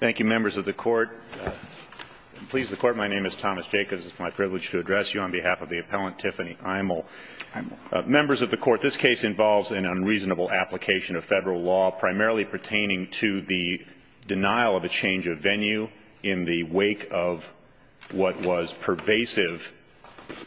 thank you members of the court please the court my name is Thomas Jacobs it's my privilege to address you on behalf of the appellant Tiffany Imel members of the court this case involves an unreasonable application of federal law primarily pertaining to the denial of a change of venue in the wake of what was pervasive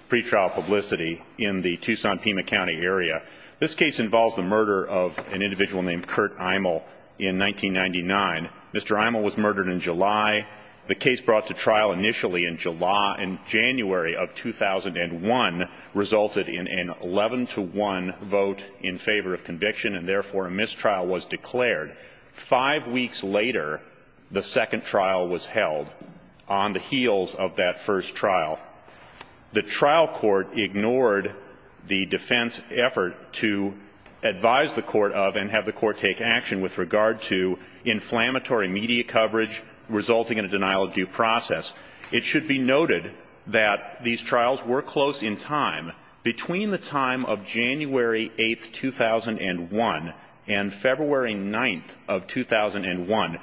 pretrial publicity in the Tucson Pima County area this case involves the murder of an individual named Kurt Imel in 1999 Mr. Imel was murdered in July the case brought to trial initially in July and January of 2001 resulted in an 11 to 1 vote in favor of conviction and therefore a mistrial was declared five weeks later the second trial was held on the heels of that first trial the trial court ignored the defense effort to advise the court of and have the court take action with regard to inflammatory media coverage resulting in a denial of due process it should be noted that these trials were close in time between the time of January 8th 2001 and February 9th of 2001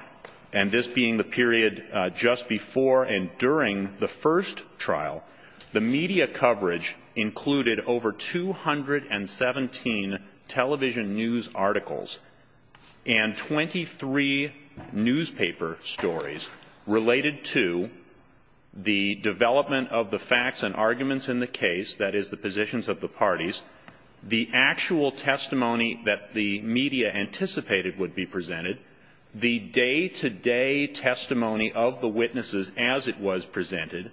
and this being the period just before and during the first trial the media coverage included over 217 television news articles and 23 newspaper stories related to the development of the facts and arguments in the case that is the positions of the parties the actual testimony that the media anticipated would be presented the day-to-day testimony of the witnesses as it was presented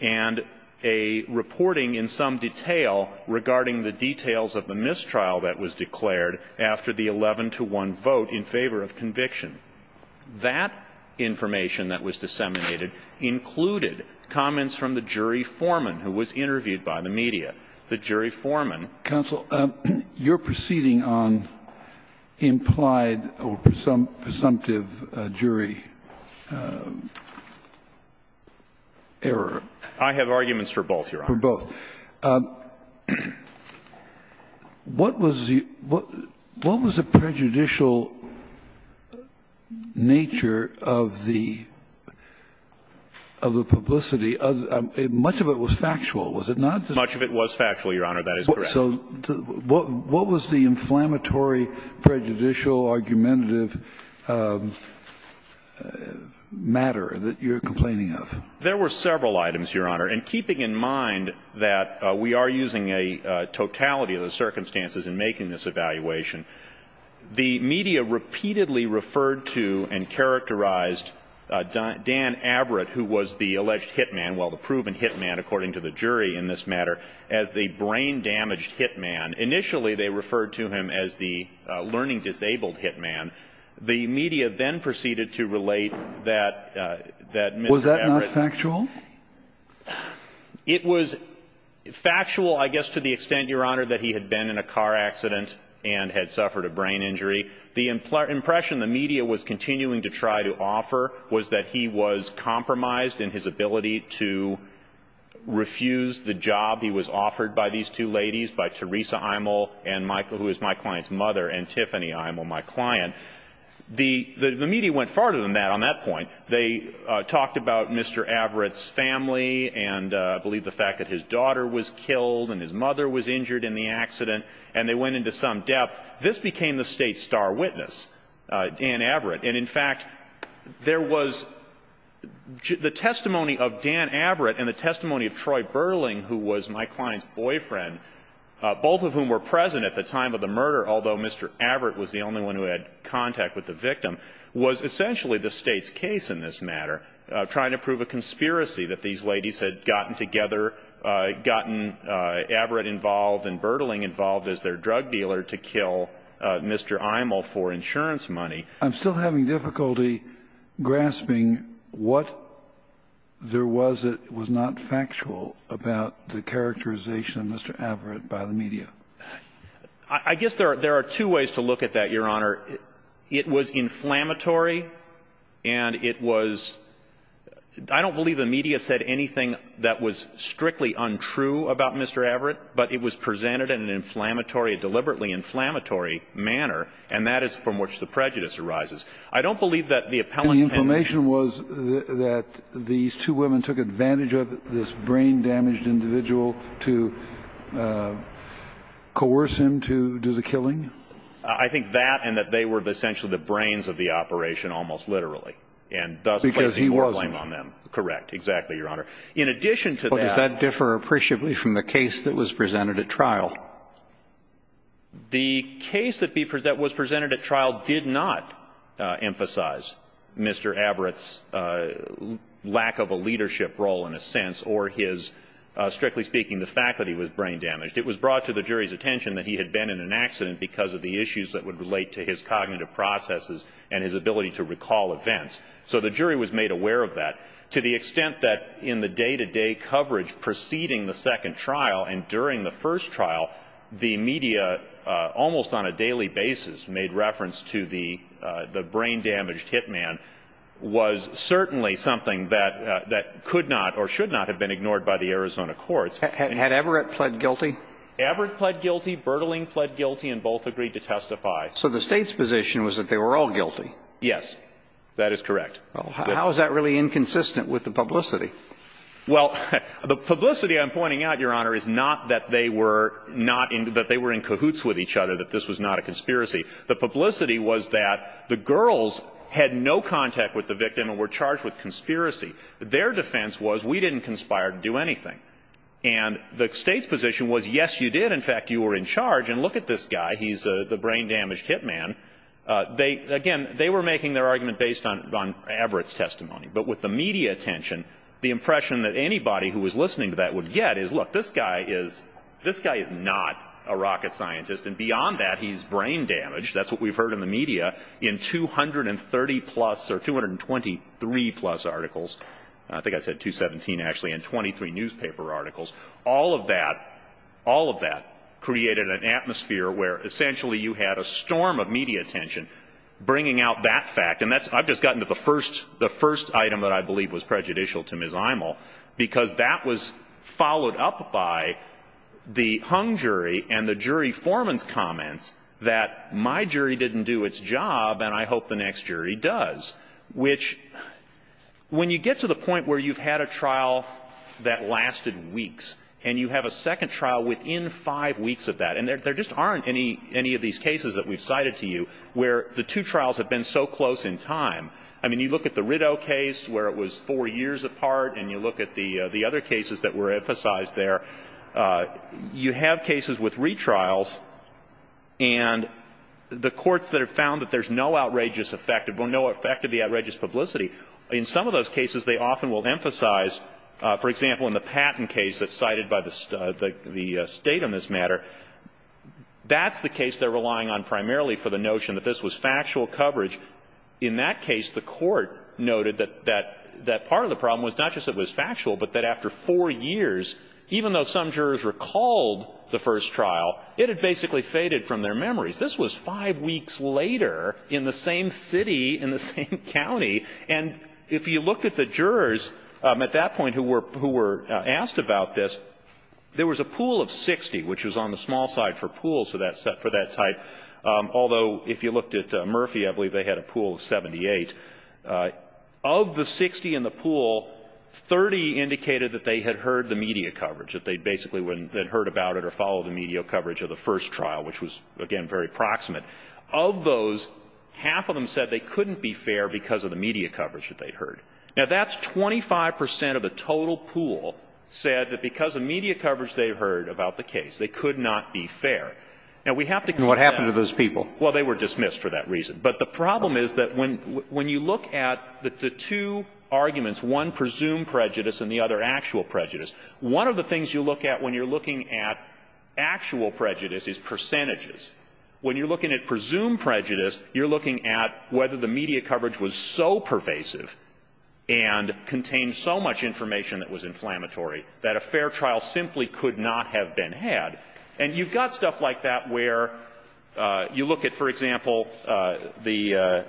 and a reporting in some detail regarding the details of the mistrial that was declared after the 11 to 1 vote in favor of conviction that information that was disseminated included comments from the jury foreman who was interviewed by the media the jury foreman counsel you're proceeding on implied or presumptive jury error I have arguments for both your honor for both what was the what what was the prejudicial nature of the of the factual was it not too much of it was factual your honor that is what was the inflammatory prejudicial argumentative matter that you're complaining of there were several items your honor and keeping in mind that we are using a totality of the circumstances in making this evaluation the media repeatedly referred to and characterized Dan Averitt who was the alleged hitman while proven hitman according to the jury in this matter as the brain damaged hitman initially they referred to him as the learning disabled hitman the media then proceeded to relate that that was that not factual it was factual I guess to the extent your honor that he had been in a car accident and had suffered a brain injury the impression the media was continuing to try to offer was that he was compromised in his ability to refuse the job he was offered by these two ladies by Teresa Eimel and Michael who is my client's mother and Tiffany Eimel my client the media went farther than that on that point they talked about Mr. Averitt's family and I believe the fact that his daughter was killed and his mother was injured in the accident and they went into some depth this became the state's star witness Dan Averitt and in fact there was the testimony of Dan Averitt and the testimony of Troy Burling who was my client's boyfriend both of whom were present at the time of the murder although Mr. Averitt was the only one who had contact with the victim was essentially the state's case in this matter trying to prove a conspiracy that these ladies had gotten together gotten Averitt involved and Burling involved as their drug dealer to kill Mr. Eimel for insurance money I'm still having difficulty grasping what there was it was not factual about the characterization of Mr. Averitt by the media I guess there are there are two ways to look at that your honor it was inflammatory and it was I don't believe the media said anything that was strictly untrue about Mr. Averitt but it was presented in an inflammatory deliberately inflammatory manner and that is from which the prejudice arises I don't believe that the appellate information was that these two women took advantage of this brain damaged individual to coerce him to do the killing I think that and that they were essentially the brains of the operation almost literally and thus because he was blamed on them correct exactly your honor in addition to that differ appreciably from the case that was presented at trial the case that be present was presented at trial did not emphasize Mr. Averitt's lack of a leadership role in a sense or his strictly speaking the faculty was brain damaged it was brought to the jury's attention that he had been in an accident because of the issues that would relate to his cognitive processes and his ability to recall events so the jury was made aware of that to the extent that in the day-to-day coverage preceding the second trial and during the first trial the media almost on a daily basis made reference to the the brain-damaged hitman was certainly something that that could not or should not have been ignored by the Arizona courts and had Everett pled guilty Everett pled guilty Bertling pled guilty and both agreed to testify so the state's position was that they were all guilty yes that is correct well how is that really inconsistent with the publicity well the publicity I'm pointing out your honor is not that they were not into that they were in cahoots with each other that this was not a conspiracy the publicity was that the girls had no contact with the victim and were charged with conspiracy their defense was we didn't conspire to do anything and the state's position was yes you did in fact you were in charge and look at this guy he's the brain-damaged hitman they again they were making their argument based on Everett's testimony but with the media attention the impression that anybody who was listening to that would get is look this guy is this guy is not a rocket scientist and beyond that he's brain-damaged that's what we've heard in the media in 230 plus or 223 plus articles I think I said 217 actually in 23 newspaper articles all of that all of that created an atmosphere where essentially you had a storm of media attention bringing out that fact and that's I've just gotten to the first the first item that I believe was prejudicial to Ms. Imel because that was followed up by the hung jury and the jury foreman's comments that my jury didn't do its job and I hope the next jury does which when you get to the point where you've had a trial that lasted weeks and you have a second trial within five weeks of that and there just aren't any any of these cases that we've to you where the two trials have been so close in time I mean you look at the Riddell case where it was four years apart and you look at the the other cases that were emphasized there you have cases with retrials and the courts that have found that there's no outrageous effect of or no effect of the outrageous publicity in some of those cases they often will emphasize for example in the patent case that's cited by the state on this matter that's the case they're relying on primarily for the notion that this was factual coverage in that case the court noted that that that part of the problem was not just it was factual but that after four years even though some jurors recalled the first trial it had basically faded from their memories this was five weeks later in the same city in the same county and if you look at the jurors at that point who were who were asked about this there was a pool of 60 which was on the small side for pool so that set for that type although if you looked at Murphy I believe they had a pool of 78 of the 60 in the pool 30 indicated that they had heard the media coverage that they basically wouldn't then heard about it or follow the media coverage of the first trial which was again very proximate of those half of them said they couldn't be fair because of the media coverage that they heard now that's 25% of the total pool said that because of media coverage they heard about the case they could not be fair now we have to what happened to those people well they were dismissed for that reason but the problem is that when when you look at the two arguments one presumed prejudice and the other actual prejudice one of the things you look at when you're looking at actual prejudice is percentages when you're looking at presumed prejudice you're looking at whether the media coverage was so pervasive and contained so much information that was inflammatory that a fair trial simply could not have been had and you've got stuff like that where you look at for example the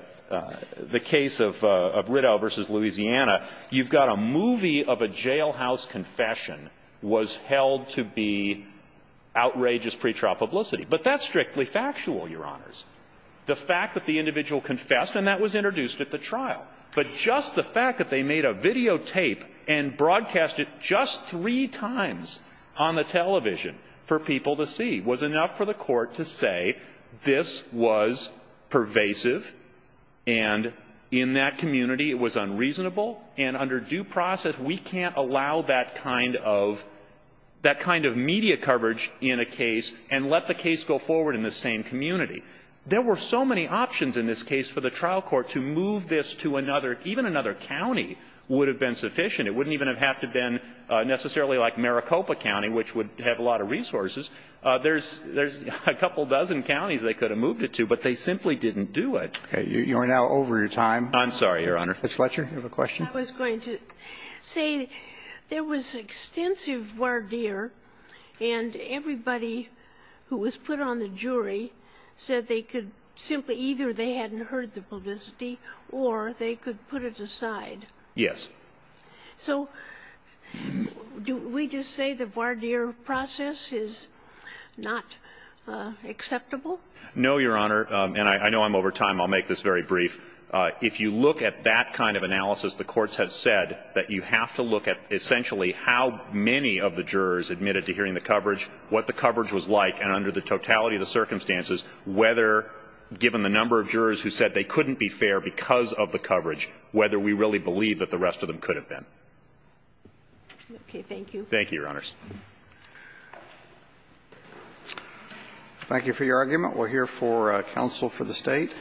the case of Riddell versus Louisiana you've got a movie of a jailhouse confession was held to be outrageous pretrial publicity but that's strictly factual your honors the fact that the individual confessed and that was introduced at the trial but just the fact that they made a videotape and broadcast it just three times on the television for people to see was enough for the court to say this was pervasive and in that community it was unreasonable and under due process we can't allow that kind of that kind of media coverage in a case and let the case go forward in the same community there were so many options in this case for the trial court to move this to another even another county would have been sufficient it wouldn't even have to been necessarily like Maricopa County which would have a lot of resources there's there's a couple dozen counties they could have moved it to but they simply didn't do it you are now over your time I'm sorry your honor let's let you have a question I was going to say there was extensive word here and everybody who was put on the jury said they could simply either they hadn't heard the publicity or they could put it aside yes so do we just say the voir dire process is not acceptable no your honor and I know I'm over time I'll make this very brief if you look at that kind of analysis the courts have said that you have to look at essentially how many of the jurors admitted to hearing the coverage what the coverage was like and under the totality of the circumstances whether given the number of jurors who really believe that the rest of them could have been okay thank you thank you your honors thank you for your argument we're here for counsel for the state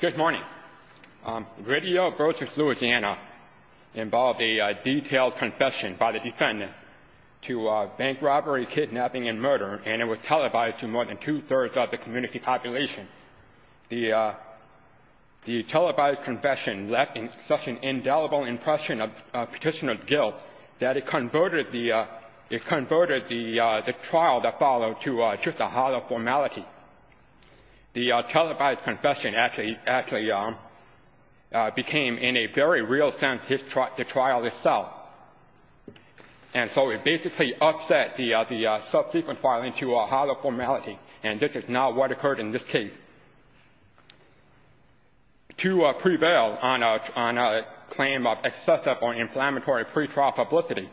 good morning radio groceries Louisiana involved a detailed confession by the defendant to bank robbery kidnapping and murder and it was televised to more than confession left in such an indelible impression of petitioner's guilt that it converted the it converted the the trial that followed to just a hollow formality the televised confession actually actually became in a very real sense his truck the trial itself and so it basically upset the the subsequent filing to a hollow formality and this is not what occurred in this case to prevail on a claim of excessive or inflammatory pretrial publicity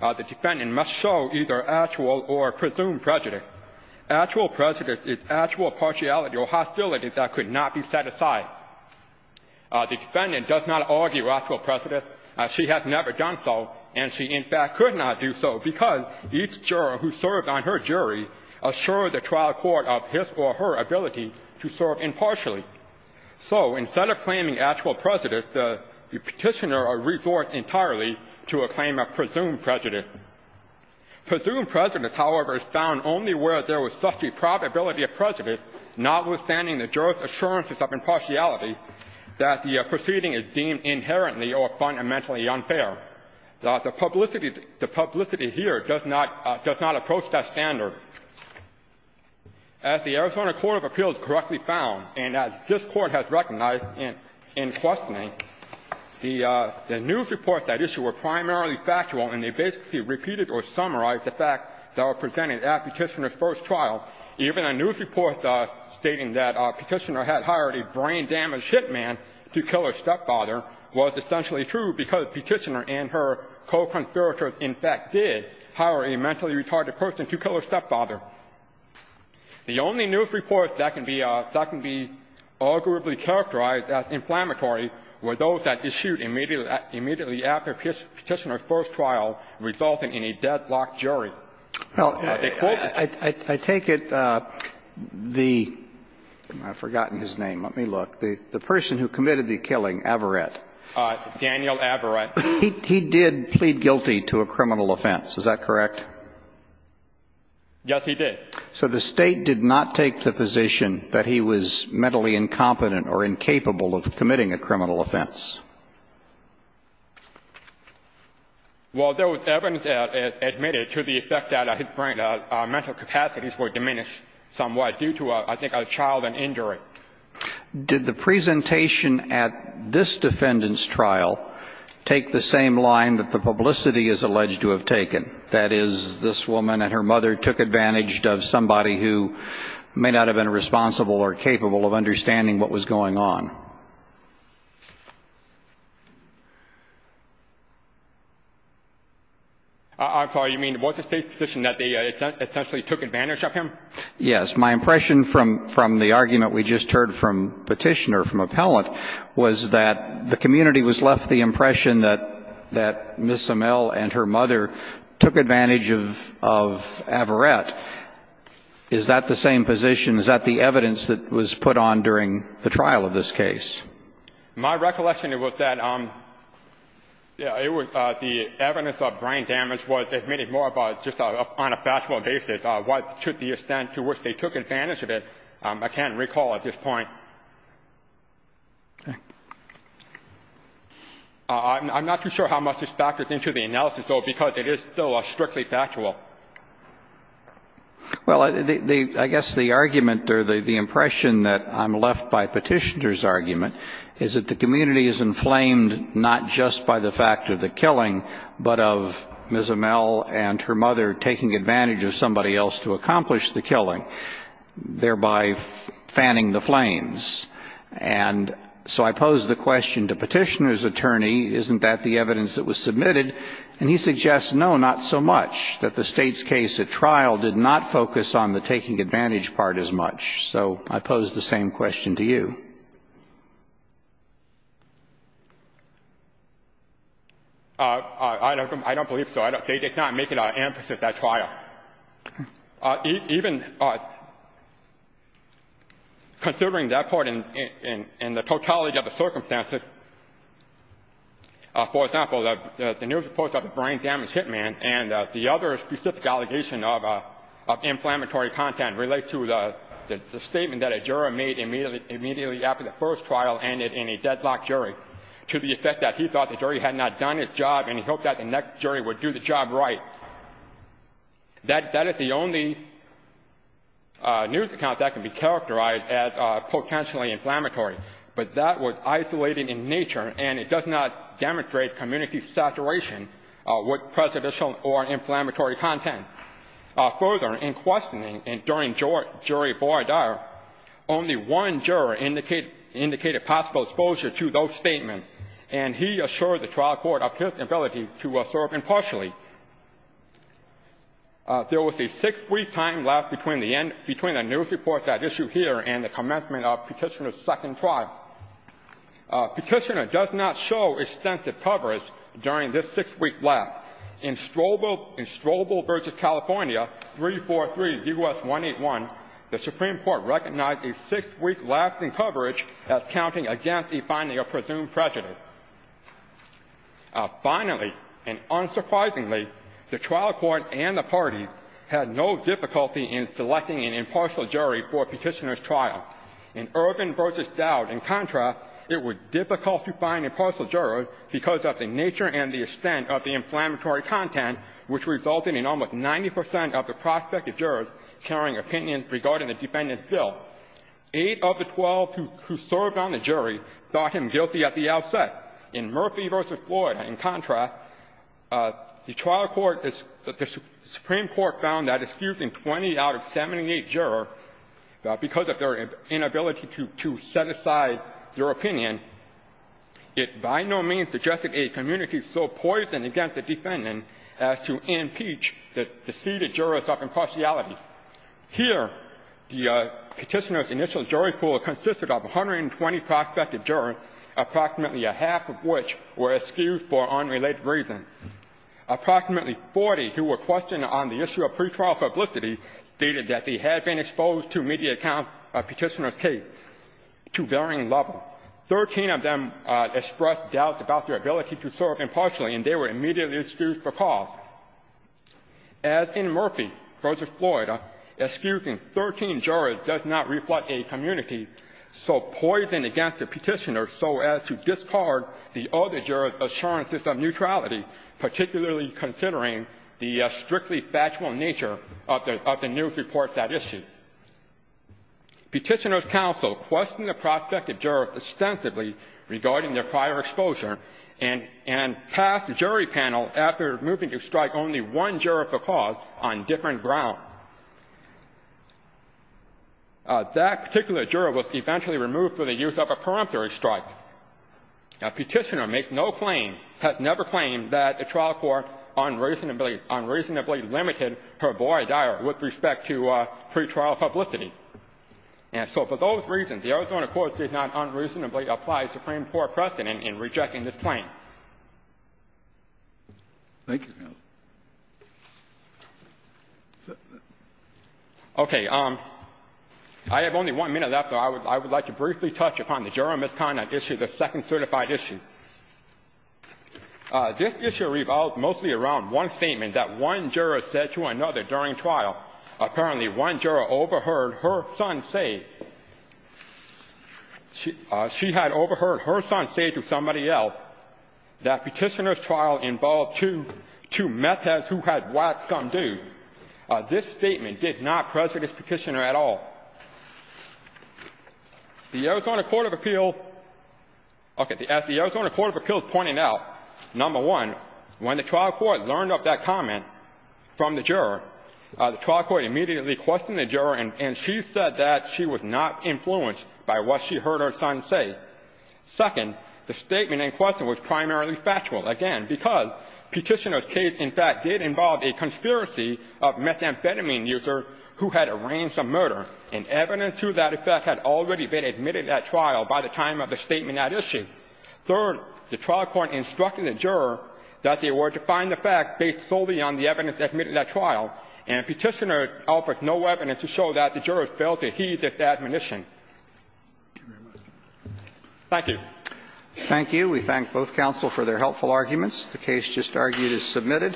the defendant must show either actual or presumed prejudice actual prejudice is actual partiality or hostility that could not be set aside the defendant does not argue actual prejudice as she has never done so and she in fact could not do so because each juror who served on her jury assured the trial court of his or her ability to serve impartially so instead of claiming actual prejudice the petitioner are reforced entirely to a claim of presumed prejudice presumed prejudice however is found only where there was such a probability of prejudice notwithstanding the jurors assurances of impartiality that the proceeding is deemed inherently or fundamentally unfair the publicity the Arizona Court of Appeals correctly found and as this court has recognized in in questioning the news reports that issue were primarily factual and they basically repeated or summarized the fact that were presented at petitioner's first trial even a news report stating that petitioner had hired a brain damaged hitman to kill her stepfather was essentially true because petitioner and her co-conspirators in fact did hire a mentally retarded person to kill her the news reports that can be arguably characterized as inflammatory were those that issued immediately after petitioner's first trial resulting in a deadlocked jury I take it the I've forgotten his name let me look the person who committed the killing Averett Daniel Averett he did plead guilty to a criminal offense is that correct yes he did so the state did not take the position that he was mentally incompetent or incapable of committing a criminal offense well there was evidence that admitted to the effect that mental capacities were diminished somewhat due to I think a child and injury did the presentation at this defendants trial take the same line that the publicity is alleged to have this woman and her mother took advantage of somebody who may not have been responsible or capable of understanding what was going on I'm sorry you mean what the state position that they essentially took advantage of him yes my impression from from the argument we just heard from petitioner from appellant was that the community was left the impression that that miss Amell and her mother took advantage of of Averett is that the same position is that the evidence that was put on during the trial of this case my recollection it was that I'm yeah it was the evidence of brain damage was admitted more about just on a factual basis what should the extent to which they took advantage of it I can't recall at this point I'm not too sure how much this factors into the analysis though because it is still a strictly factual well I guess the argument or the impression that I'm left by petitioner's argument is that the community is inflamed not just by the fact of the killing but of miss Amell and her mother taking advantage of somebody else to thereby fanning the flames and so I pose the question to petitioner's attorney isn't that the evidence that was submitted and he suggests no not so much that the state's case at trial did not focus on the taking advantage part as much so I pose the same question to you I don't I don't believe so I don't think it's not making our emphasis that's why even considering that part in in the totality of the circumstances for example that the news reports of the brain damage hit man and the other specific allegation of inflammatory content relates to the statement that a trial ended in a deadlock jury to the effect that he thought the jury had not done its job and he hoped that the next jury would do the job right that that is the only news account that can be characterized as potentially inflammatory but that was isolated in nature and it does not demonstrate community saturation what presidential or inflammatory content further in indicated possible exposure to those statements and he assured the trial court of his ability to serve impartially there was a six-week time left between the end between a news report that issue here and the commencement of petitioner's second trial petitioner does not show extensive coverage during this six-week lap in strobel in strobel versus california 343 us 181 the supreme court recognized a six-week lasting coverage at accounting against the finding of presumed prejudice finally and unsurprisingly the trial court and the parties had no difficulty in selecting an impartial jury for petitioner's trial in urban versus doubt in contrast it was difficult to find a partial juror because of the nature and the extent of the inflammatory content which resulted in almost 90% of the prospective jurors carrying opinions regarding the defendant's bill eight of the twelve who served on the jury thought him guilty at the outset in murphy versus floyd in contrast the trial court is that the supreme court found that excusing 20 out of 78 juror because of their inability to set aside their opinion it by no means suggested a community so poisoned against the defendant as to impeach the seated jurors of impartiality here the petitioner's initial jury pool consisted of 120 prospective jurors approximately a half of which were excused for unrelated reasons approximately 40 who were questioned on the issue of pre-trial publicity stated that he had been exposed to media account of petitioner's case to varying level 13 of them expressed doubt about their ability to serve impartially and they were immediately excused for cause as in murphy versus so poisoned against the petitioner so as to discard the other jurors assurances of neutrality particularly considering the strictly factual nature of the news reports that issue petitioner's counsel questioned the prospective jurors extensively regarding their prior exposure and passed jury panel after moving to strike only one juror for cause on different ground that particular juror was eventually removed for the use of a peremptory strike now petitioner makes no claim has never claimed that a trial court unreasonably unreasonably limited her boy diary with respect to pre-trial publicity and so for those reasons the Arizona courts did not unreasonably apply supreme court precedent in rejecting this claim thank you okay um I have only one minute after I would I would like to briefly touch upon the juror misconduct issue the second certified issue this issue revolved mostly around one statement that one juror said to another during trial apparently one juror overheard her son say she she had overheard her son say to somebody else that petitioner's trial involved two two methods who had watched something do this statement did not prejudice petitioner at all the Arizona Court of Appeals okay the Arizona Court of Appeals pointing out number one when the trial court learned of that comment from the juror the trial court immediately questioned the juror and she said that she was not influenced by what she heard her son say second the statement in question was primarily factual again because petitioners case in fact did involve a conspiracy of methamphetamine user who had arranged a murder and evidence to that effect had already been admitted at trial by the time of the statement at issue third the trial court instructed the juror that they were to find the fact based solely on the evidence admitted at trial and petitioner offers no evidence to show that the jurors failed to heed this admonition thank you thank you we thank both counsel for their helpful arguments the case just argued is submitted